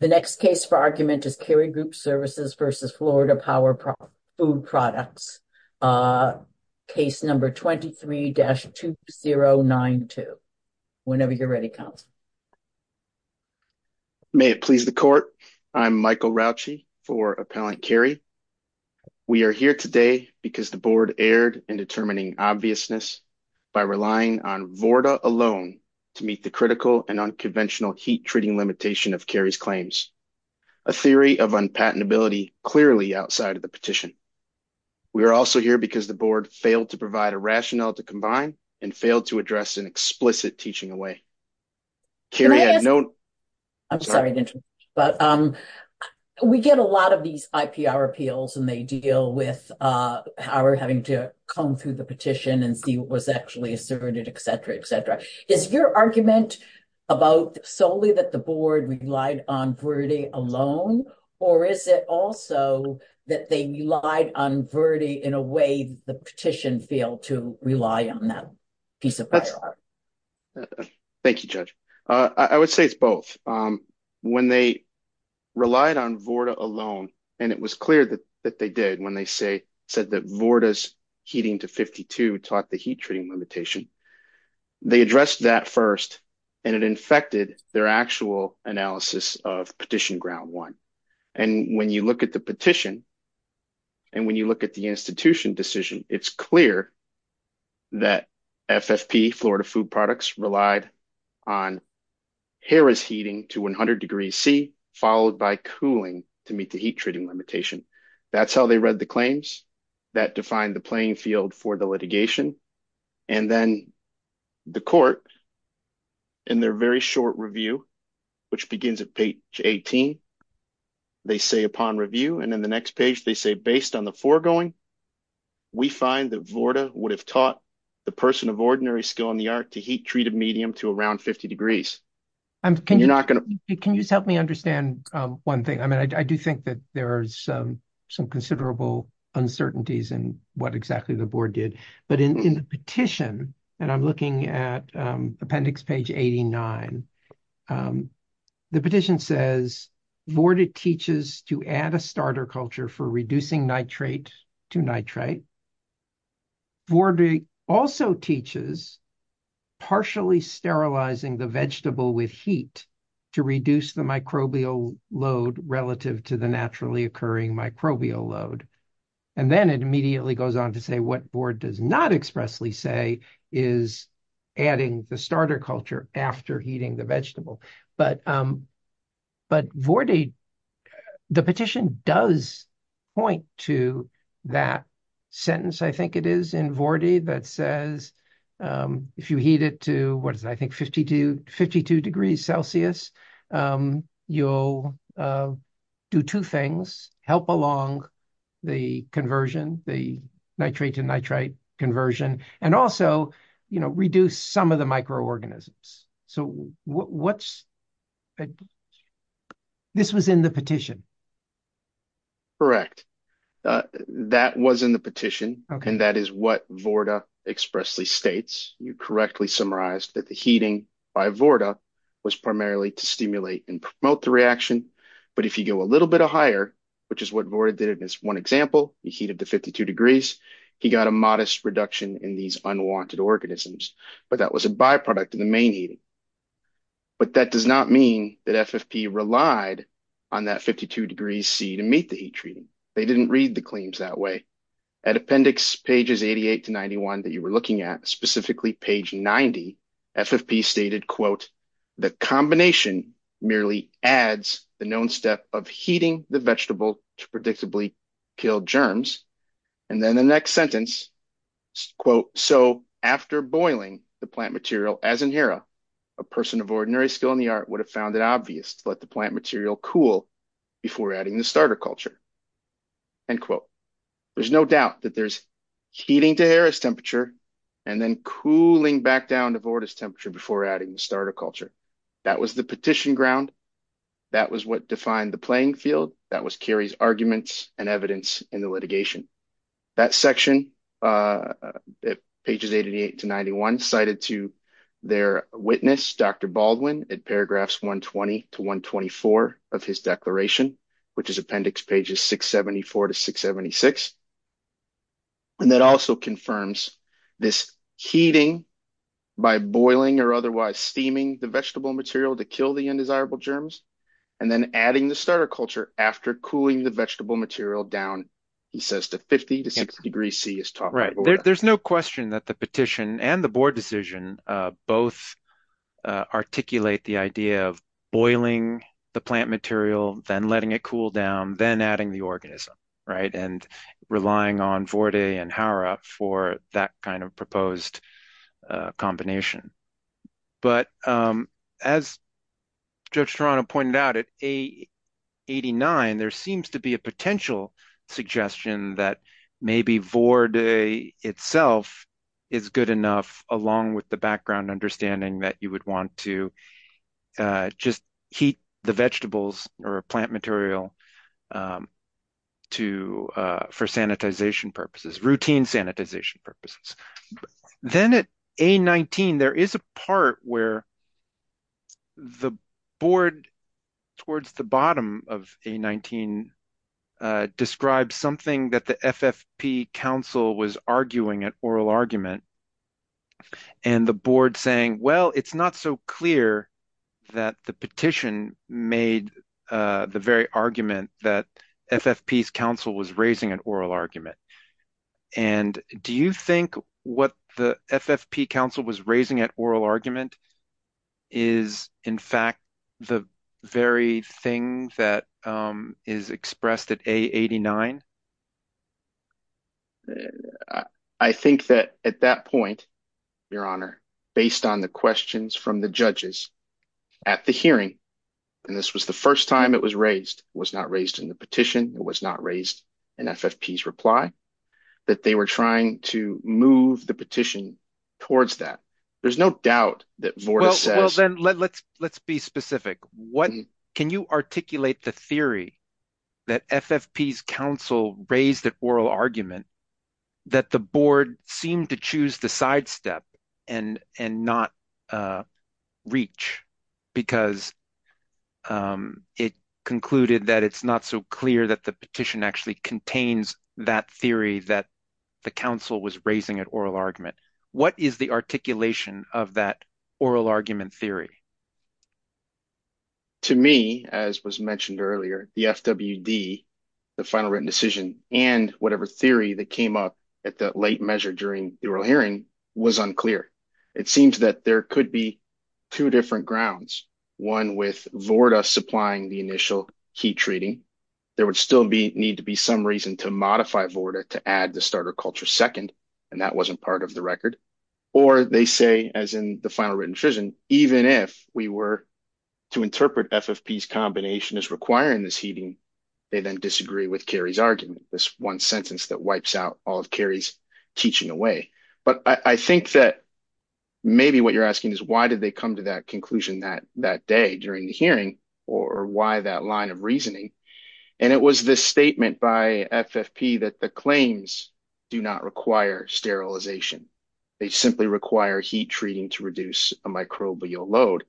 The next case for argument is Cary Group Services v. Florida Power Food Products, case number 23-2092. Whenever you're ready, counsel. May it please the court, I'm Michael Rauchi for Appellant Cary. We are here today because the board erred in determining obviousness by relying on VORTA alone to meet the critical and unconventional heat treating limitation of Cary's claims, a theory of unpatentability clearly outside of the petition. We are also here because the board failed to provide a rationale to combine and failed to address an explicit teaching away. Cary had no... I'm sorry, but we get a lot of these IPR appeals and they deal with our having to come through the petition and see what was actually asserted, etc, etc. Is your argument about solely that the board relied on VORTA alone, or is it also that they relied on VORTA in a way the petition failed to rely on that piece of paperwork? Thank you, Judge. I would say it's both. When they relied on VORTA alone, and it was clear that they did when they said that VORTA's heating to 52 taught the heat treating limitation, they addressed that first, and it infected their actual analysis of petition ground one. And when you look at the petition, and when you look at the institution decision, it's clear that FFP, Florida Food Products, relied on Harrah's heating to 100 degrees C, followed by cooling to meet the heat treating limitation. That's how they read the claims that defined the playing field for the litigation. And then the court, in their very short review, which begins at page 18, they say upon review, and then the next page, they say, based on the foregoing, we find that VORTA would have taught the person of ordinary skill in the art to heat treated medium to around 50 degrees. Can you just help me understand one thing? I mean, I do think that there's some considerable uncertainties in what exactly the board did, but in the petition, and I'm looking at appendix page 89, the petition says VORTA teaches to add a starter culture for reducing nitrate to nitrate. VORTA also teaches partially sterilizing the vegetable with heat to reduce the microbial load relative to the naturally occurring microbial load. And then it immediately goes on to say what board does not expressly say is adding the starter culture after heating the vegetable. But VORTA, the petition does point to that sentence, I think it is, in VORTA that says if you heat it to, what is it, I think 52 degrees Celsius, you'll do two things, help along the conversion, the nitrate to nitrate conversion, and also, you know, reduce some of the microorganisms. So what's, this was in the petition? Correct. That was in the petition, and that is what VORTA expressly states. You correctly summarized that the heating by VORTA was primarily to stimulate and promote the reaction. But if you go a little bit higher, which is what VORTA did in this one example, you heat it to 52 degrees, he got a modest reduction in these unwanted organisms, but that was a byproduct of the main heating. But that does not mean that FFP relied on that 52 degrees C to meet the heat treating. They didn't read the claims that way. At appendix pages 88 to 91 that you were looking at, specifically page 90, FFP stated, quote, the combination merely adds the known step of heating the vegetable to predictably kill germs. And then the next sentence, quote, so after boiling the plant material as in HERA, a person of ordinary skill in the art would have found it obvious to let the plant material cool before adding the starter culture. End quote. There's no doubt that there's heating to HERA's temperature and then cooling back down to VORTA's temperature before adding the starter culture. That was the petition ground. That was what defined the playing field. That was Kerry's arguments and evidence in the litigation. That section, pages 88 to 91, cited to their witness, Dr. Baldwin, in paragraphs 120 to 124 of his declaration, which is appendix pages 674 to 676. And that also confirms this heating by boiling or otherwise steaming the material to kill the undesirable germs and then adding the starter culture after cooling the vegetable material down, he says, to 50 to 60 degrees C. There's no question that the petition and the board decision both articulate the idea of boiling the plant material, then letting it cool down, then adding the organism, right? And relying on VORTA and HERA for that kind of proposed combination. But as Judge Torano pointed out, at page 89, there seems to be a potential suggestion that maybe VORTA itself is good enough, along with the background understanding that you would want to just heat the vegetables or plant material for routine sanitization purposes. Then at A19, there is a part where the board, towards the bottom of A19, describes something that the FFP council was arguing an oral argument. And the board saying, well, it's not so clear that the petition made the very argument that FFP's council was raising an oral argument. And do you think what the FFP council was raising at oral argument is, in fact, the very thing that is expressed at A89? I think that at that point, Your Honor, based on the questions from the judges at the hearing, and this was the first time it was raised, it was not raised in the petition, it was not raised in FFP's reply, that they were trying to move the petition towards that. There's no doubt that VORTA says... Well, then let's be specific. Can you articulate the theory that FFP's council raised at oral argument that the board seemed to choose the sidestep and not reach? Because it concluded that it's not so clear that the petition actually contains that theory that the council was raising at oral argument. What is the articulation of that oral argument theory? To me, as was mentioned earlier, the FWD, the final written decision, and whatever theory that came up at the late measure during the oral hearing was unclear. It seems that there could be two different grounds, one with VORTA supplying the initial heat treating. There would still need to be some reason to modify VORTA to add the starter culture second, and that wasn't part of the record. Or they say, as in the final written decision, even if we were to interpret FFP's combination as requiring this heating, they then disagree with Kerry's argument, this one sentence that wipes out all of Kerry's teaching away. But I think that maybe what you're asking is why did they come to that conclusion that day during the hearing, or why that line of reasoning? And it was this statement by FFP that the claims do not require sterilization. They simply require heat treating to reduce a microbial load.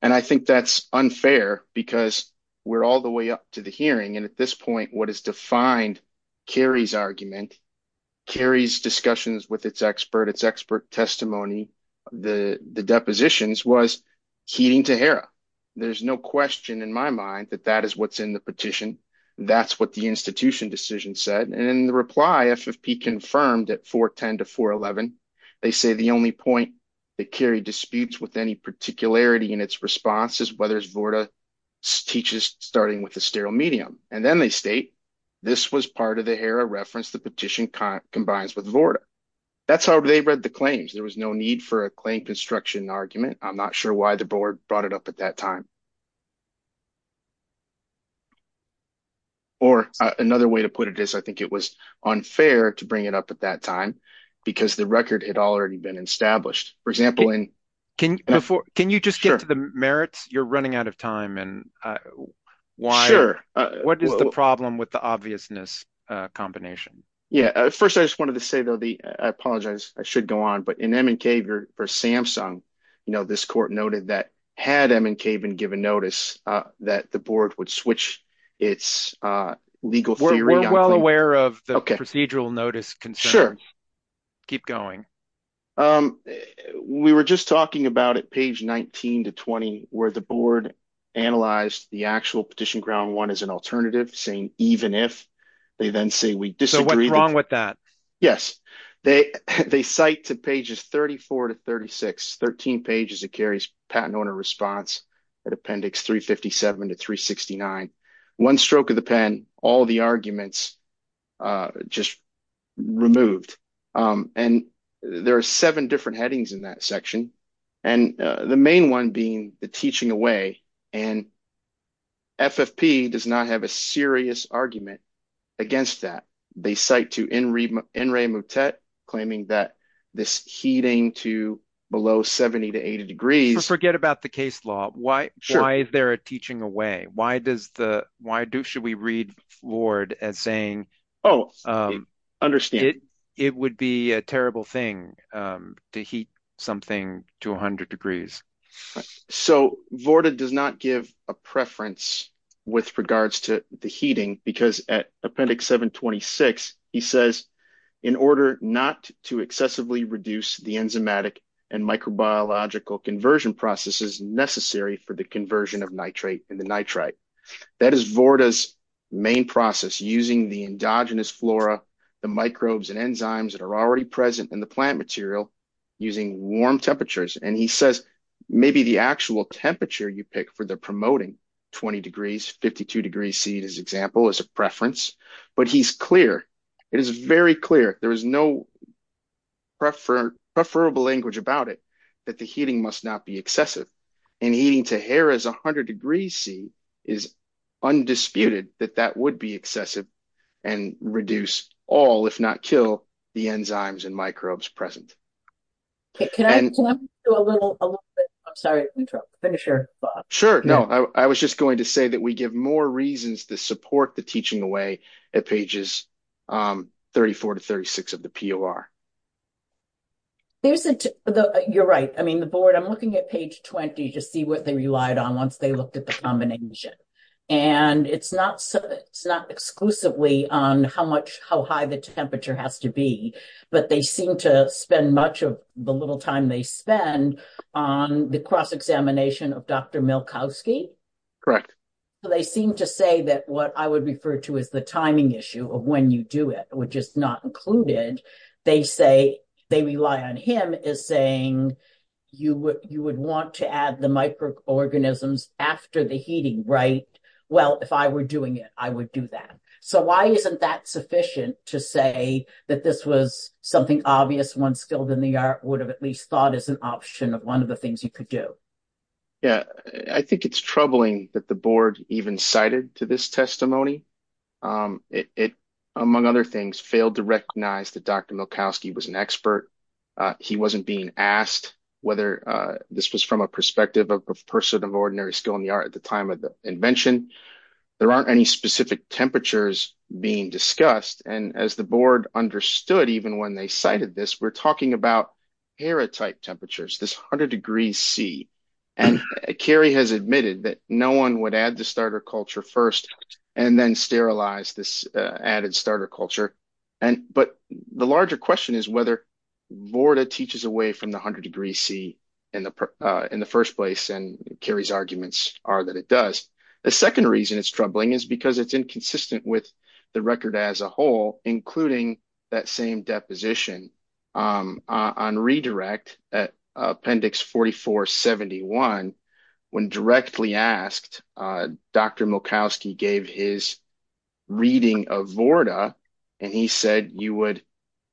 And I think that's unfair, because we're all the way up to the hearing. And at this point, what is defined Kerry's argument, Kerry's discussions with its expert, its expert testimony, the depositions was heating to HERA. There's no question in my mind that that is what's in the petition. That's what the institution decision said. And in the reply, FFP confirmed at 410 to 411, they say the only point that Kerry disputes with any particularity in its response is whether VORTA teaches starting with a sterile medium. And then they state, this was part of the HERA reference the petition combines with VORTA. That's how they read the claims. There was no need for a claim construction argument. I'm not sure why the board brought it up at that time. Or another way to put it is, I think it was unfair to bring it up at that time, because the record had already been established. For example, Can you just get to the merits? You're running out of time. And why? What is the problem with the obviousness combination? Yeah, first, I just wanted to say, though, the, I apologize, I should go on. But in MNK versus Samsung, you know, this court noted that had MNK been given notice, that the board would switch its legal theory. We're well aware of the procedural notice concerns. Keep going. Um, we were just talking about it page 19 to 20, where the board analyzed the actual petition ground one as an alternative saying even if they then say we disagree with that. Yes, they, they cite to pages 34 to 36, 13 pages, it carries patent owner response at appendix 357 to 369. One stroke of the pen, all the arguments just removed. And there are seven different headings in that section. And the main one being the teaching away. And FFP does not have a serious argument against that. They cite to in in Raymond Tett, claiming that this heating to below 70 to 80 degrees. Forget about the case law. Why? Why is there a teaching away? Why does the why do should we read Lord as saying, Oh, understand, it would be a terrible thing to heat something to 100 degrees. So Vorta does not give a preference with regards to the heating, because at appendix 726, he says, in order not to excessively reduce the enzymatic and microbiological conversion processes necessary for the conversion of nitrate and the nitrite. That is Vorta's main process using the endogenous flora, the microbes and enzymes that are already present in the plant material, using warm temperatures. And he says, maybe the actual temperature you pick for the promoting 20 degrees, 52 degrees C, his example is a preference. But he's clear, it is very clear, there is no prefer preferable language about it, that the heating must not be excessive. And heating to hair is 100 degrees C is undisputed that that would be excessive and reduce all if not kill the enzymes and microbes present. Okay, can I do a little bit? I'm sorry, finish your thought. Sure. No, I was just going to say that we give more reasons to support the teaching away at pages 34 to 36 of the PLR. There's a, you're right. I mean, the board, I'm looking at page 20, to see what they relied on once they looked at the combination. And it's not so it's not exclusively on how much how high the temperature has to be. But they seem to spend much of the little time they spend on the cross examination of Dr. Milkowski. Correct. So they seem to say that what I would refer to as the timing issue of when you do it, which is not included, they say, they rely on him is saying, you would you would want to add the microorganisms after the heating, right? Well, if I were doing it, I would do that. So why isn't that sufficient to say that this was something obvious, one skilled in the art would have at least thought as an option of one of the things you could do? Yeah, I think it's troubling that the board even cited to this testimony. It, among other things, failed to recognize that Dr. Milkowski was an expert. He wasn't being asked whether this was from a perspective of a person of ordinary skill in the art at the time of the invention. There aren't any specific temperatures being discussed. And as the board understood, even when they cited this, we're talking about airtight temperatures, this hundred degrees C. And Carrie has admitted that no one would add the starter culture first, and then sterilize this added starter culture. And but the larger question is whether Vorta teaches away from the hundred degrees C in the first place. And Carrie's arguments are that it does. The second reason it's troubling is because it's inconsistent with the record as a whole, including that same deposition on redirect at appendix 4471. When directly asked, Dr. Milkowski gave his reading of Vorta. And he said you would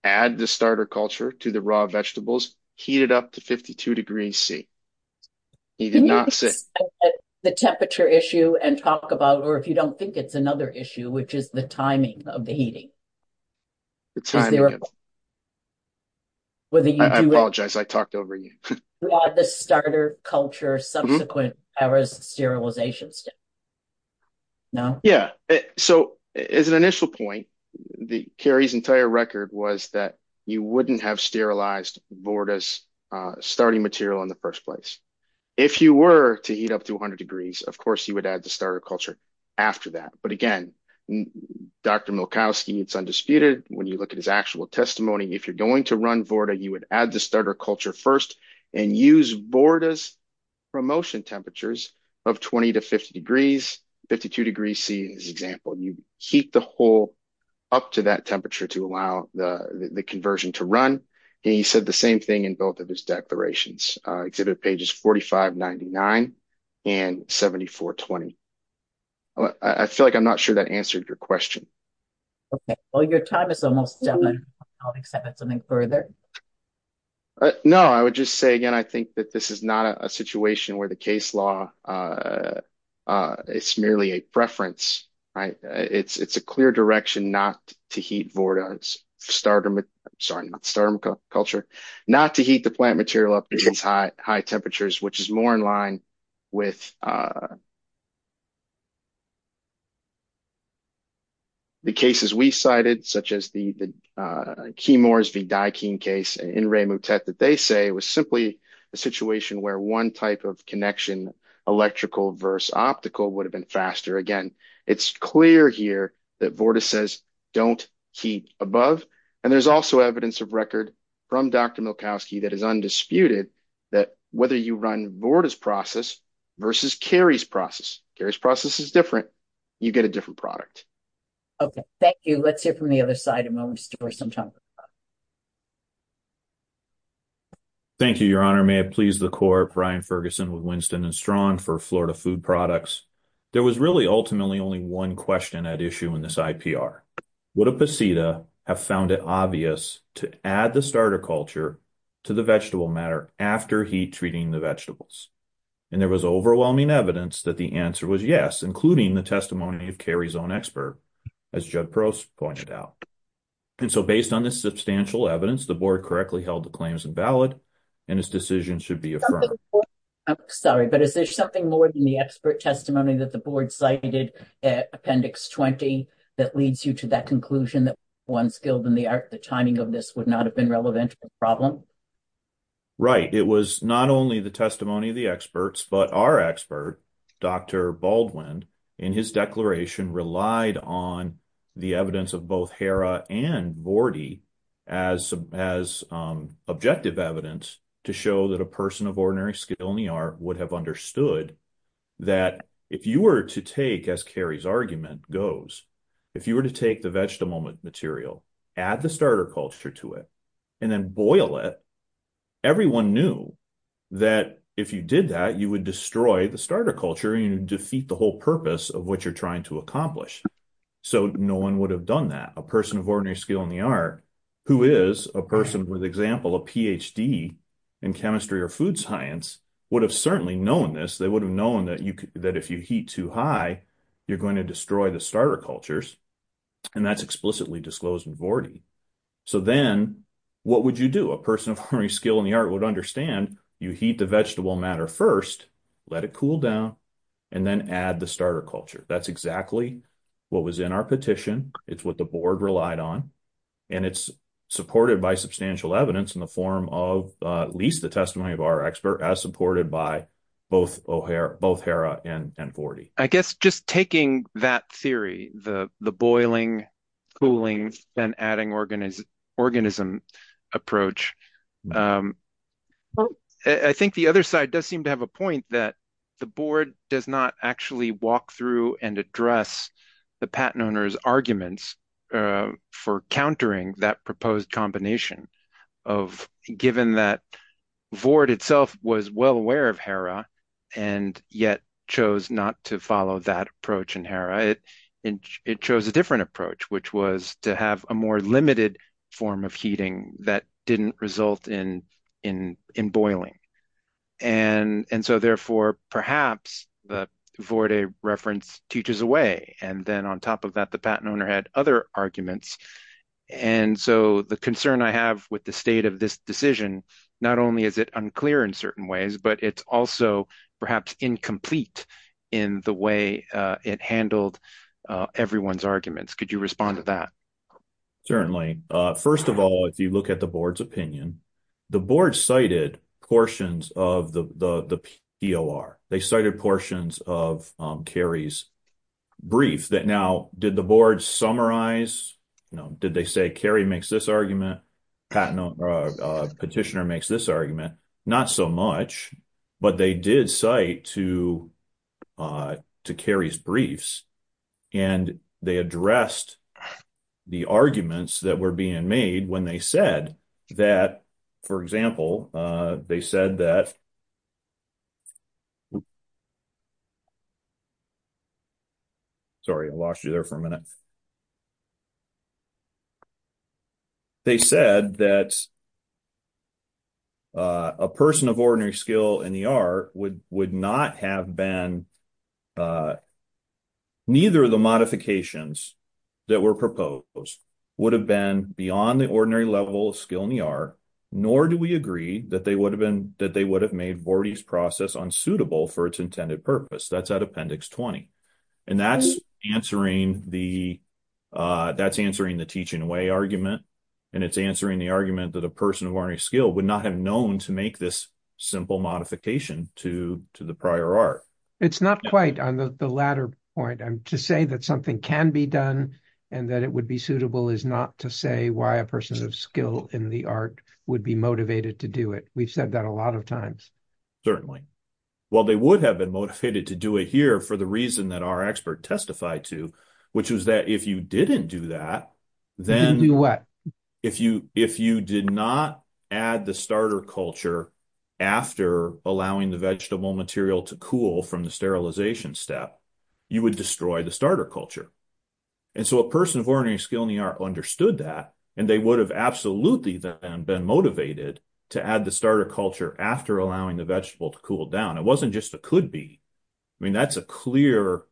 add the starter culture to the raw vegetables, heat it up to 52 degrees C. He did not say the temperature issue and talk about or if you don't think it's another issue, which is the timing of the heating. Whether you apologize, I talked over you. The starter culture subsequent hours sterilization. Yeah. So as an initial point, the Carrie's entire record was that you wouldn't have sterilized Vorta's starting material in the first place. If you were to heat up to a hundred degrees, of course you would add the starter culture after that. But again, Dr. Milkowski, it's undisputed. When you look at his actual testimony, if you're going to run Vorta, you would add the starter culture first and use Vorta's promotion temperatures of 20 to 50 degrees, 52 degrees C in this example. You heat the whole up to that temperature to allow the conversion to run. And he said the same thing in both of his declarations. Exhibit pages 4599 and 7420. I feel like I'm not sure that answered your question. Okay. Well, your time is almost done. I'll accept something further. No, I would just say, again, I think that this is not a situation where the case law is merely a preference, right? It's a clear direction not to heat Vorta's starter, sorry, not starter culture, not to heat the plant material up to these high temperatures, which is more in line with the cases we cited, such as the Keymores v. Dikeen case in Ray Mutet that they say was simply a situation where one type of connection, electrical versus optical, would have been faster. Again, it's clear here that Vorta says don't heat above, and there's also evidence of record from Dr. Milkowski that is undisputed that whether you run Vorta's process versus Cary's process, Cary's process is different. You get a different product. Okay. Thank you. Let's hear from the other side in a moment. Thank you, Your Honor. May it please the Court, Brian Ferguson with Winston & Strong for Florida Food Products. There was really ultimately only one question at issue in this IPR. Would a PACITA have found it obvious to add the starter culture to the vegetable matter after heat treating the vegetables? And there was overwhelming evidence that the answer was yes, including the testimony of Cary's own expert, as Judd Prost pointed out. And so based on this substantial evidence, the Board correctly held the claims invalid, and his decision should be affirmed. I'm sorry, but is there something more than the expert testimony that the Board cited at Appendix 20 that leads you to that conclusion that one skilled in the art, the timing of this would not have been relevant to the problem? Right. It was not only the testimony of the experts, but our expert, Dr. Baldwin, in his declaration relied on the evidence of both Cary and Vordy as objective evidence to show that a person of ordinary skill in the art would have understood that if you were to take, as Cary's argument goes, if you were to take the vegetable material, add the starter culture to it, and then boil it, everyone knew that if you did that, you would destroy the starter culture and defeat the whole purpose of what you're trying to accomplish. So no one would have done that. A person of ordinary skill in the art, who is a person with example, a PhD in chemistry or food science, would have certainly known this. They would have known that if you heat too high, you're going to destroy the starter cultures, and that's explicitly disclosed in Vordy. So then what would you do? A person of ordinary skill in the art would understand you heat the vegetable matter first, let it cool down, and then add the starter culture. That's exactly what was in our petition. It's what the board relied on, and it's supported by substantial evidence in the form of at least the testimony of our expert as supported by both Hera and Vordy. I guess just taking that theory, the boiling, cooling, then adding organism approach, I think the other side does seem to have a point that the board does not actually walk through and address the patent owner's arguments for countering that proposed combination. Given that Vord itself was well aware of Hera and yet chose not to follow that approach in Hera, it chose a different approach, which was to have a more limited form of heating that didn't result in boiling. Therefore, perhaps the Vordy reference teaches away. Then on top of that, the patent owner had other arguments. So the concern I have with the state of this decision, not only is it unclear in certain ways, but it's also perhaps incomplete in the way it handled everyone's arguments. Could you respond to that? Certainly. First of all, if you look at the board's opinion, the board cited portions of the POR. They cited portions of Kerry's brief that now did the board summarize? Did they say Kerry makes this argument, petitioner makes this argument? Not so much, but they did cite to Kerry's briefs and they addressed the arguments that were being made when they said that, for example, they said that, sorry, I lost you there for a minute. They said that a person of ordinary skill in the art would not have been, neither of the modifications that were proposed would have been beyond the ordinary level of skill in the art, nor do we agree that they would have made Vordy's process unsuitable for intended purpose. That's at appendix 20. That's answering the teaching away argument, and it's answering the argument that a person of ordinary skill would not have known to make this simple modification to the prior art. It's not quite on the latter point. To say that something can be done and that it would be suitable is not to say why a person of skill in the art would be motivated to do it. We've said that a lot of times. Certainly. Well, they would have been motivated to do it here for the reason that our expert testified to, which was that if you didn't do that, then if you did not add the starter culture after allowing the vegetable material to cool from the sterilization step, you would destroy the starter culture. A person of ordinary skill in the art understood that, and they would have absolutely then been motivated to add the starter culture after allowing the vegetable to cool down. It wasn't just a could be. I mean, that's a clear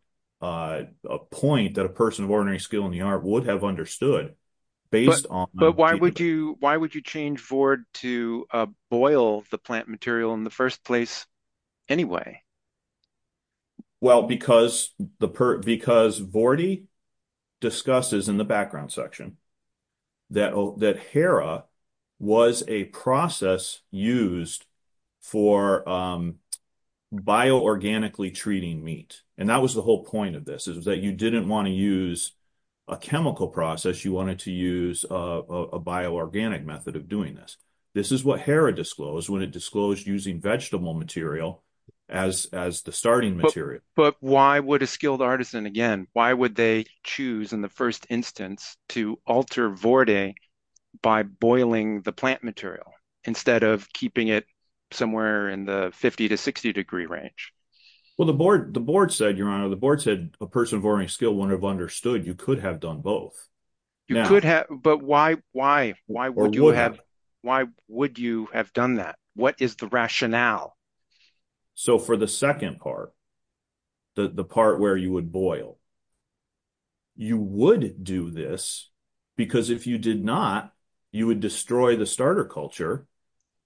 point that a person of ordinary skill in the art would have understood based on... But why would you change Vord to boil the plant material in the first place anyway? Well, because Vordy discusses in the background section that Hera was a process used for bio-organically treating meat. And that was the whole point of this, is that you didn't want to use a chemical process. You wanted to use a bio-organic method of doing this. This is what as the starting material. But why would a skilled artisan again, why would they choose in the first instance to alter Vordy by boiling the plant material instead of keeping it somewhere in the 50 to 60 degree range? Well, the board said, Your Honor, the board said a person of ordinary skill wouldn't have understood. You could have done both. You could have, but why would you have done that? What is the rationale? So for the second part, the part where you would boil, you would do this because if you did not, you would destroy the starter culture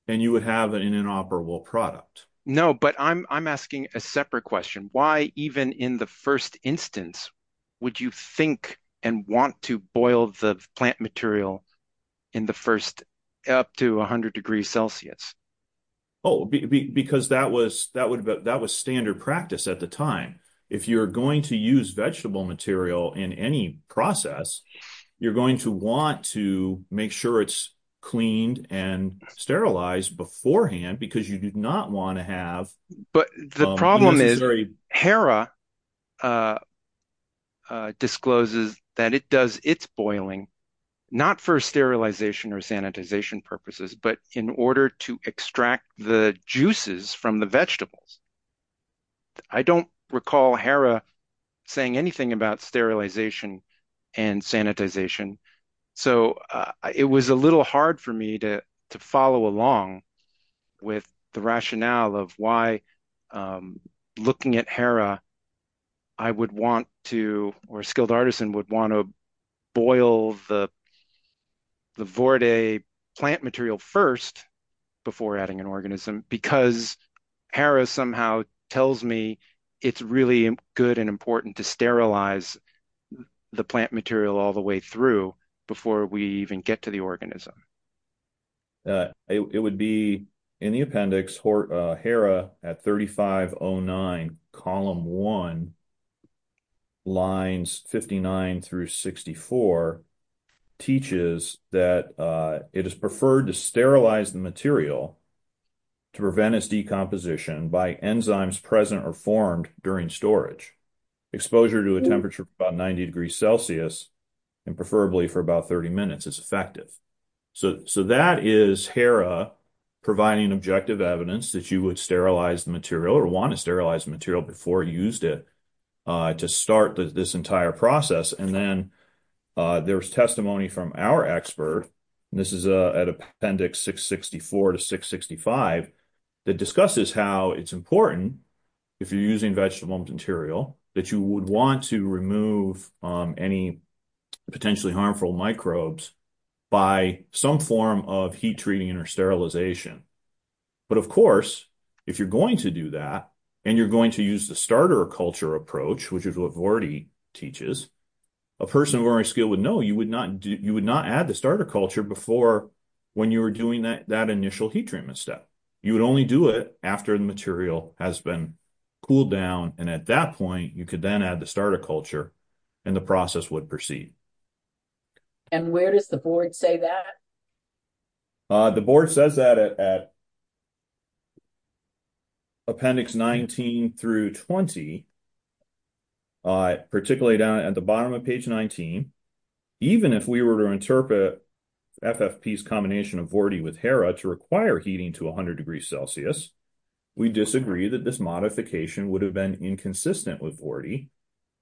and you would have an inoperable product. No, but I'm asking a separate question. Why even in the first instance, would you think and want to boil the plant material in the first up to a hundred degrees Celsius? Oh, because that was standard practice at the time. If you're going to use vegetable material in any process, you're going to want to make sure it's cleaned and sterilized beforehand because you did not want to have. But the problem is HERA discloses that it does its boiling, not for sterilization or sanitization purposes, but in order to extract the juices from the vegetables. I don't recall HERA saying anything about sterilization and sanitization. So it was a little hard for me to follow along with the rationale of why looking at HERA, I would want to, or a skilled artisan would want to boil the Vorde plant material first before adding an organism because HERA somehow tells me it's really good and important to sterilize the plant material all the way through before we even get to the organism. It would be in the appendix, HERA at 3509, column one, lines 59 through 64, teaches that it is preferred to sterilize the material to prevent its decomposition by enzymes present or formed during storage. Exposure to a temperature of about 90 degrees Celsius and preferably for about 30 minutes is effective. So that is HERA providing objective evidence that you would sterilize the material or want to sterilize the material before you used it to start this entire process. And then there's testimony from our expert, this is at appendix 664 to 665, that discusses how it's important, if you're using vegetable material, that you would want to remove any potentially harmful microbes by some form of heat treating or sterilization. But of course, if you're going to do that, and you're going to use the starter culture approach, which is what Vorde teaches, a person of our skill would know you would not add the starter culture before when you were doing that initial heat treatment step. You would only do it after the material has been cooled down. And at that point, you could then add the starter culture and the process would proceed. And where does the board say that? The board says that at appendix 19 through 20, particularly down at the bottom of page 19, even if we were to interpret FFP's combination of Vorde with HERA to require heating to 100 Celsius, we disagree that this modification would have been inconsistent with Vorde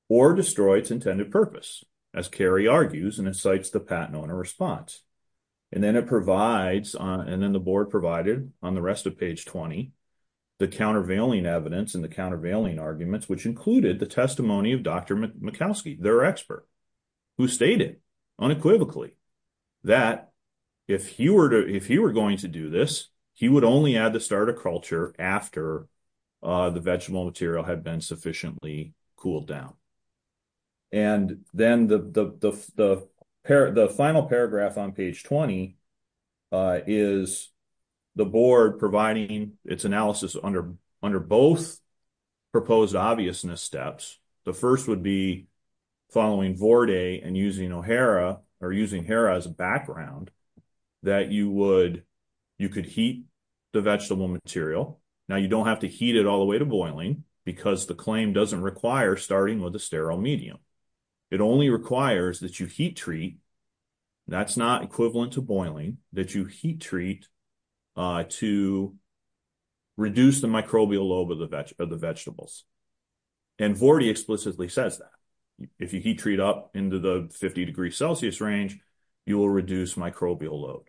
or destroy its intended purpose, as Kerry argues, and it cites the patent owner response. And then it provides, and then the board provided on the rest of page 20, the countervailing evidence and the countervailing arguments, which included the testimony of Dr. Mikowski, their expert, who stated unequivocally that if he were going to do this, he would only add the starter culture after the vegetable material had been sufficiently cooled down. And then the final paragraph on page 20 is the board providing its analysis under both proposed obviousness steps. The first would be following Vorde and using HERA as a background that you could heat the vegetable material. Now, you don't have to heat it all the way to boiling because the claim doesn't require starting with a sterile medium. It only requires that you heat treat, that's not equivalent to boiling, that you heat treat to reduce the microbial load of the vegetables. And Vorde explicitly says that. If you heat treat up into the 50 degree Celsius range, you will reduce microbial load.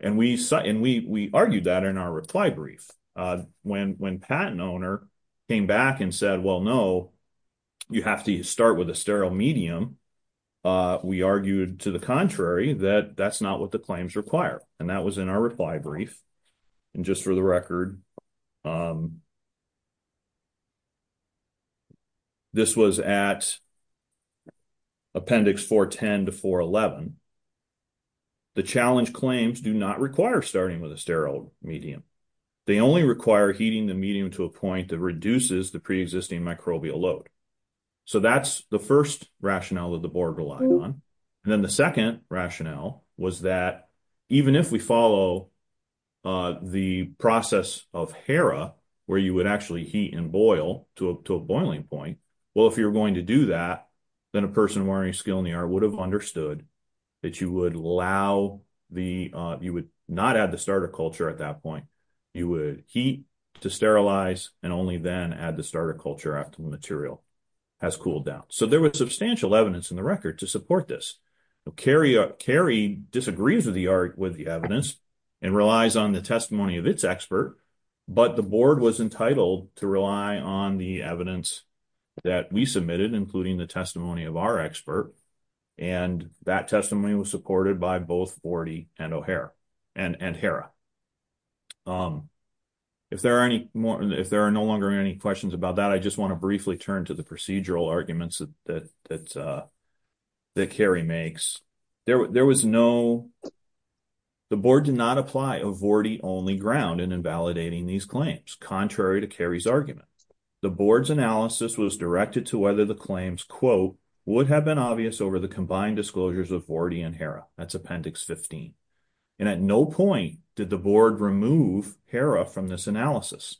And we argued that in our reply brief. When patent owner came back and said, well, no, you have to start with a sterile medium, we argued to the contrary, that that's not what the claims require. And that was in our reply brief. And just for the record, this was at appendix 410 to 411. The challenge claims do not require starting with a sterile medium. They only require heating the medium to a point that reduces the pre-existing microbial load. So that's the first rationale that the board relied on. And then the second rationale was that even if we follow the process of HERA, where you would actually heat and boil to a boiling point, well, if you're going to do that, then person wearing a skill in the art would have understood that you would not add the starter culture at that point. You would heat to sterilize and only then add the starter culture after the material has cooled down. So there was substantial evidence in the record to support this. Cary disagrees with the art with the evidence and relies on the testimony of its expert. But the board was entitled to rely on the evidence that we submitted, including the testimony of our expert. And that testimony was supported by both Vorti and O'Hara and HERA. If there are no longer any questions about that, I just want to briefly turn to the procedural arguments that Cary makes. The board did not apply a Vorti-only ground in invalidating these claims, contrary to Cary's argument. The board's analysis was directed to whether the claims, quote, would have been obvious over the combined disclosures of Vorti and HERA. That's Appendix 15. And at no point did the board remove HERA from this analysis.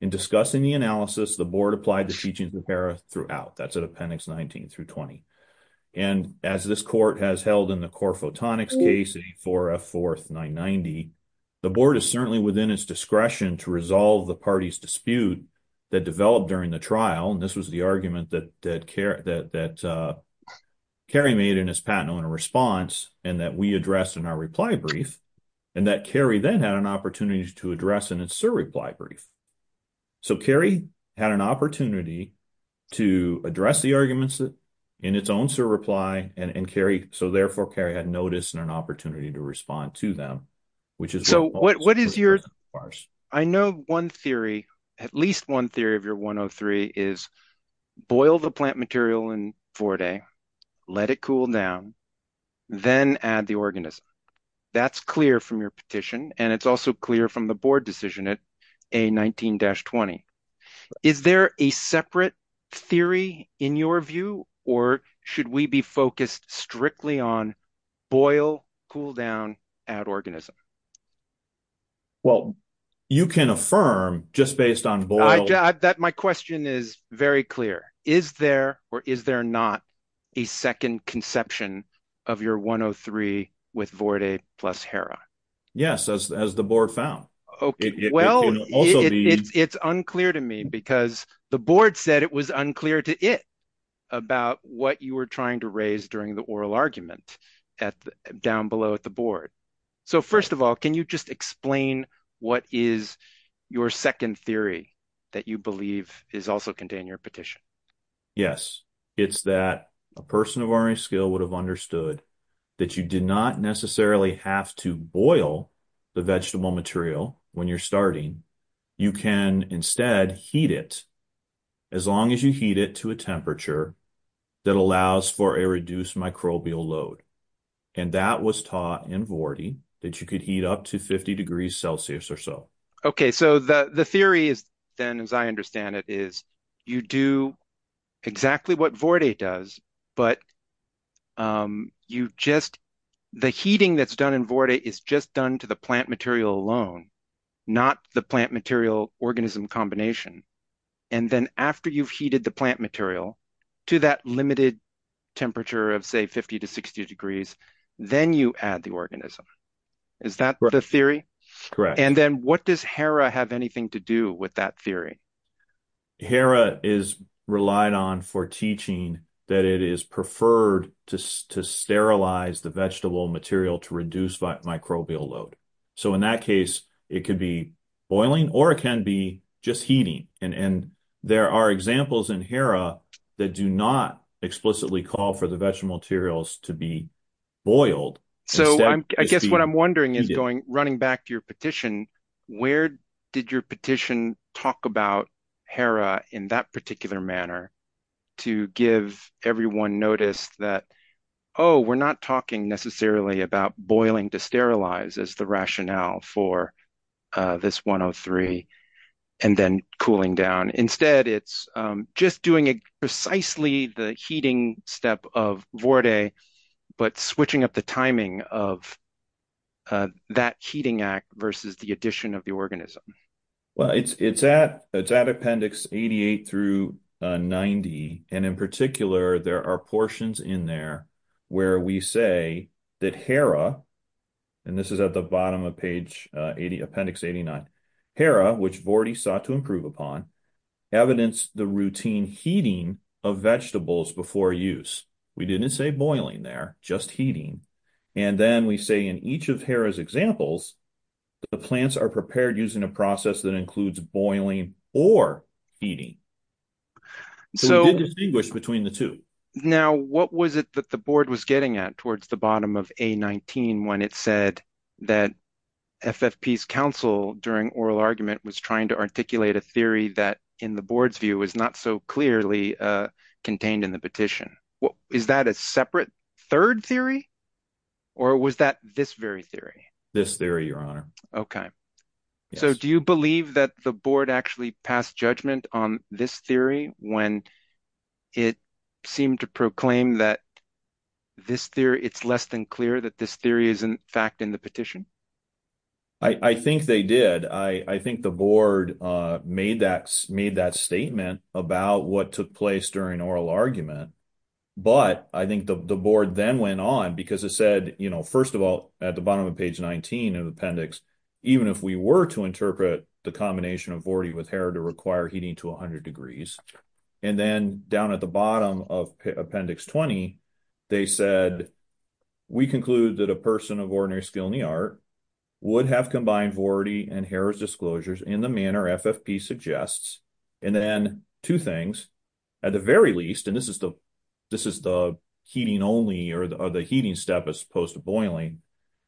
In discussing the analysis, the board applied the teachings of HERA throughout. That's at Appendix 19 through 20. And as this court has held in the core photonics case, 84F4, 990, the board is certainly within its discretion to resolve the party's dispute that developed during the trial. And this was the argument that Cary made in his patent owner response and that we addressed in our reply brief, and that Cary then had an opportunity to address in its surreply brief. So Cary had an opportunity to address the arguments in its own surreply, and Cary, so therefore, Cary had notice and an opportunity to respond to them, which is— What is your—I know one theory, at least one theory of your 103 is boil the plant material in Vorti, let it cool down, then add the organism. That's clear from your petition, and it's also clear from the board decision at A19-20. Is there a separate theory in your view, or should we be focused strictly on boil, cool down, add organism? Well, you can affirm just based on boil— My question is very clear. Is there or is there not a second conception of your 103 with Vorti plus Hera? Yes, as the board found. Well, it's unclear to me because the board said it was unclear to it about what you were trying to raise during the oral argument down below at the board. So first of all, can you just explain what is your second theory that you believe is also contained in your petition? Yes, it's that a person of learning skill would have understood that you did not necessarily have to boil the vegetable material when you're starting. You can instead heat it as long as you heat it to a temperature that allows for a reduced microbial load, and that was taught in Vorti that you could heat up to 50 degrees Celsius or so. Okay. So the theory is then, as I understand it, is you do exactly what Vorti does, but the heating that's done in Vorti is just done to the plant material alone, not the plant material organism combination. And then after you've heated the plant material to that limited temperature of, say, 50 to 60 degrees, then you add the organism. Is that the theory? And then what does Hera have anything to do with that theory? Hera is relied on for teaching that it is preferred to sterilize the vegetable material to reduce microbial load. So in that case, it could be boiling or it can be just heating. And there are examples in Hera that do not explicitly call for the vegetable materials to be boiled. So I guess what I'm wondering is, running back to your petition, where did your petition talk about Hera in that particular manner to give everyone notice that, oh, we're not talking necessarily about boiling to sterilize as the rationale for this 103 and then cooling down. Instead, it's just doing precisely the heating step of Vorti, but switching up the timing of that heating act versus the addition of the organism. Well, it's at Appendix 88 through 90. And in particular, there are portions in there where we say that Hera, and this is at the bottom of page 80, Appendix 89, Hera, which Vorti sought to improve upon, evidenced the routine heating of vegetables before use. We didn't say boiling there, just heating. And then we say in each of Hera's examples, the plants are prepared using a process that includes boiling or heating. So we did distinguish between the two. Now, what was it that the board was getting at towards the bottom of A19 when it said that FFP's counsel during oral argument was trying to articulate a theory that, in the board's view, is not so clearly contained in the petition? Is that a separate third theory, or was that this very theory? This theory, Your Honor. OK. So do you believe that the board actually passed judgment on this theory when it seemed to proclaim that this theory, it's less than clear that this theory is, in fact, in the petition? I think they did. I think the board made that statement about what took place during oral argument. But I think the board then went on because it said, first of all, at the bottom of page 19 of appendix, even if we were to interpret the combination of Vorti with Hera to require heating to 100 degrees, and then down at the bottom of appendix 20, they said, we conclude that a person of ordinary skill in the art would have combined Vorti and Hera's disclosures in the manner FFP suggests. And then two things, at the very least, and this is the heating only or the heating step as opposed to boiling.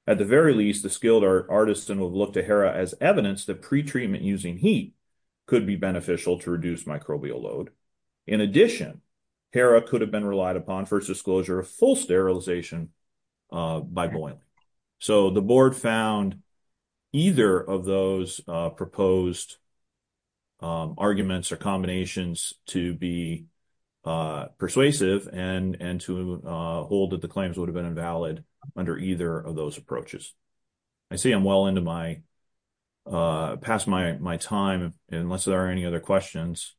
At the very least, the skilled artists and would look to Hera as evidence that pretreatment using heat could be beneficial to reduce microbial load. In addition, Hera could have been relied upon for its disclosure of full sterilization by boiling. So the board found either of those proposed arguments or combinations to be persuasive and to hold that the claims would have been invalid under either of those approaches. I see I'm well into my past my time, unless there are any other questions.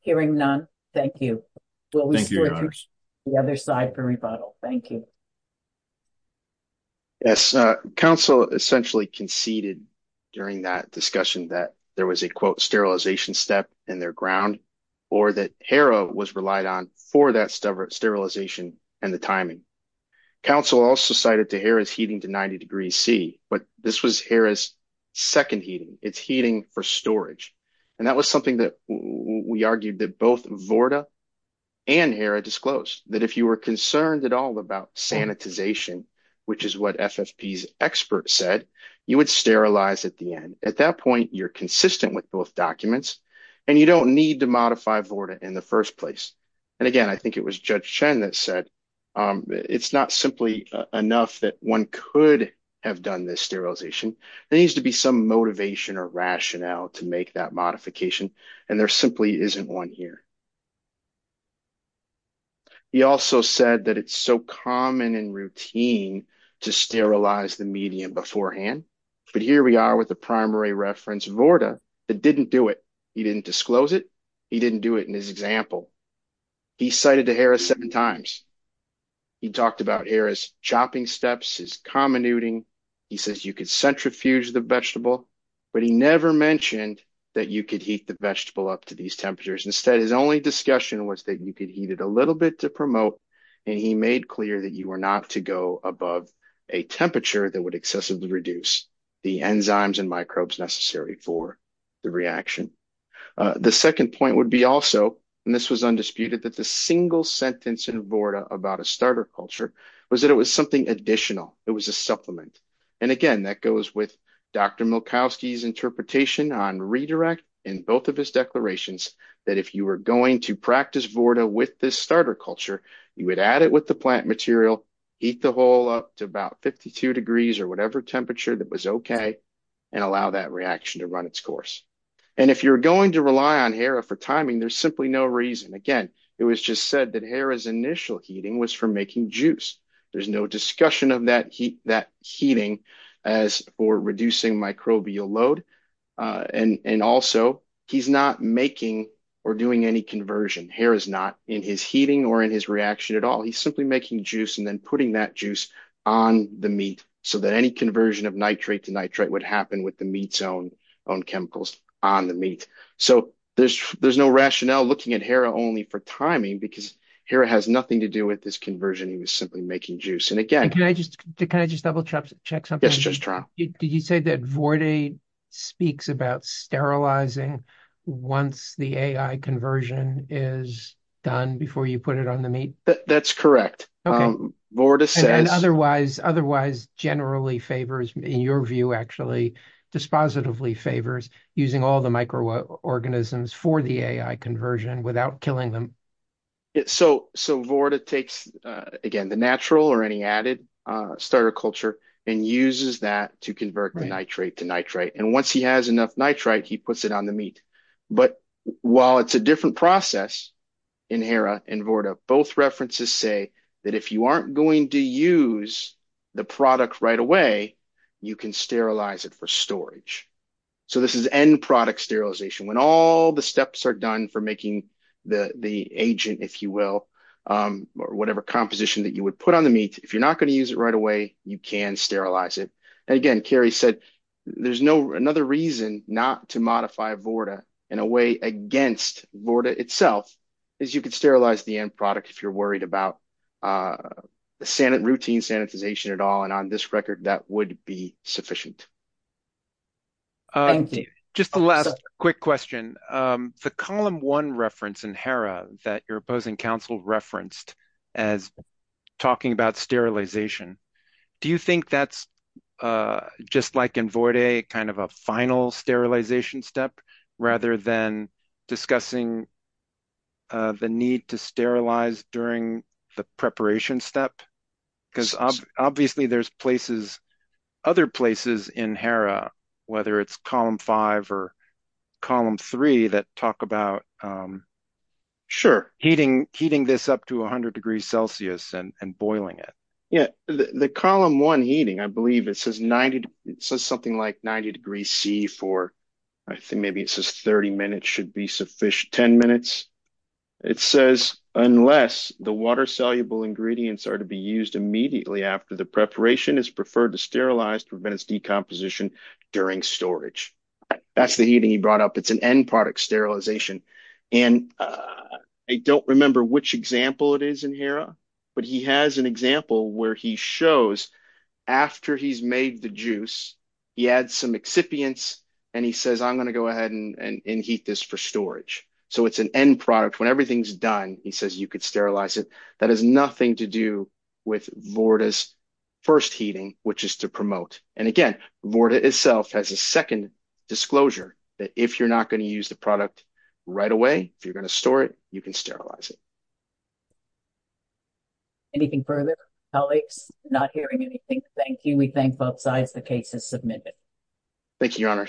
Hearing none. Thank you. The other side for rebuttal. Thank you. Yes, counsel essentially conceded during that discussion that there was a quote sterilization step in their ground or that Hera was relied on for that sterilization and the timing. Counsel also cited to Hera's heating to 90 degrees C. But this was Hera's second heating. It's heating for storage. And that was something that we argued that both Vorta and Hera disclosed that if you were concerned at all about sanitization, which is what FFP's expert said, you would sterilize at the end. At that point, you're consistent with both documents. And you don't need to modify Vorta in the first place. And again, I think it was Judge Chen that said it's not simply enough that one could have done this sterilization. There needs to be some motivation or rationale to make that modification. And there simply isn't one here. He also said that it's so common and routine to sterilize the medium beforehand. But here we are with the primary reference Vorta that didn't do it. He didn't disclose it. He didn't do it in his example. He cited to Hera seven times. He talked about Hera's chopping steps, his comminuting. He says you could centrifuge the vegetable. But he never mentioned that you could heat the vegetable up to these temperatures. Instead, his only discussion was that you could heat it a little bit to promote. And he made clear that you were not to go above a temperature that would excessively reduce the enzymes and microbes necessary for the reaction. The second point would be also, and this was undisputed, that the single sentence in Vorta about a starter culture was that it was something additional. It was a supplement. And again, that goes with Dr. Milkowski's interpretation on redirect in both of his You would add it with the plant material, heat the whole up to about 52 degrees or whatever temperature that was OK, and allow that reaction to run its course. And if you're going to rely on Hera for timing, there's simply no reason. Again, it was just said that Hera's initial heating was for making juice. There's no discussion of that heating as for reducing microbial load. And also, he's not making or doing any conversion. Hera's not in his heating or in his reaction at all. He's simply making juice and then putting that juice on the meat so that any conversion of nitrate to nitrate would happen with the meat's own chemicals on the meat. So there's no rationale looking at Hera only for timing because Hera has nothing to do with this conversion. He was simply making juice. And again, can I just double check something? Yes, just try. Did you say that Vorda speaks about sterilizing once the conversion is done before you put it on the meat? That's correct. Vorda says otherwise, otherwise generally favors in your view, actually, dispositively favors using all the microorganisms for the conversion without killing them. So so Vorda takes, again, the natural or any added starter culture and uses that to convert the nitrate to nitrate. And once he has enough nitrite, he puts it on the meat. But while it's a different process in Hera and Vorda, both references say that if you aren't going to use the product right away, you can sterilize it for storage. So this is end product sterilization. When all the steps are done for making the agent, if you will, or whatever composition that you would put on the meat, if you're not going to use it right away, you can sterilize it. And again, Kerry said there's no another reason not to modify Vorda in a way against Vorda itself is you could sterilize the end product if you're worried about routine sanitization at all. And on this record, that would be sufficient. Just the last quick question, the column one reference in Hera that your opposing council referenced as talking about sterilization, do you think that's just like in Vorda, kind of a final sterilization step rather than discussing the need to sterilize during the preparation step? Because obviously there's places, other places in Hera, whether it's column five or column three that talk about. Sure. Heating this up to 100 degrees Celsius and boiling it. Yeah. The column one heating, I believe it says something like 90 degrees C for, I think maybe it says 30 minutes should be sufficient, 10 minutes. It says unless the water soluble ingredients are to be used immediately after the preparation is preferred to sterilize to prevent its decomposition during storage. That's the heating he brought up. It's an end product sterilization and I don't remember which example it is in Hera, but he has an example where he shows after he's made the juice, he adds some excipients and he says, I'm going to go ahead and heat this for storage. So it's an end product. When everything's done, he says you could sterilize it. That has nothing to do with Vorda's first heating, which is to promote. And again, Vorda itself has a second disclosure that if you're not going to use the product right away, if you're going to store it, you can sterilize it. Anything further? Colleagues not hearing anything. Thank you. We thank both sides. The case is submitted. Thank you, Your Honor.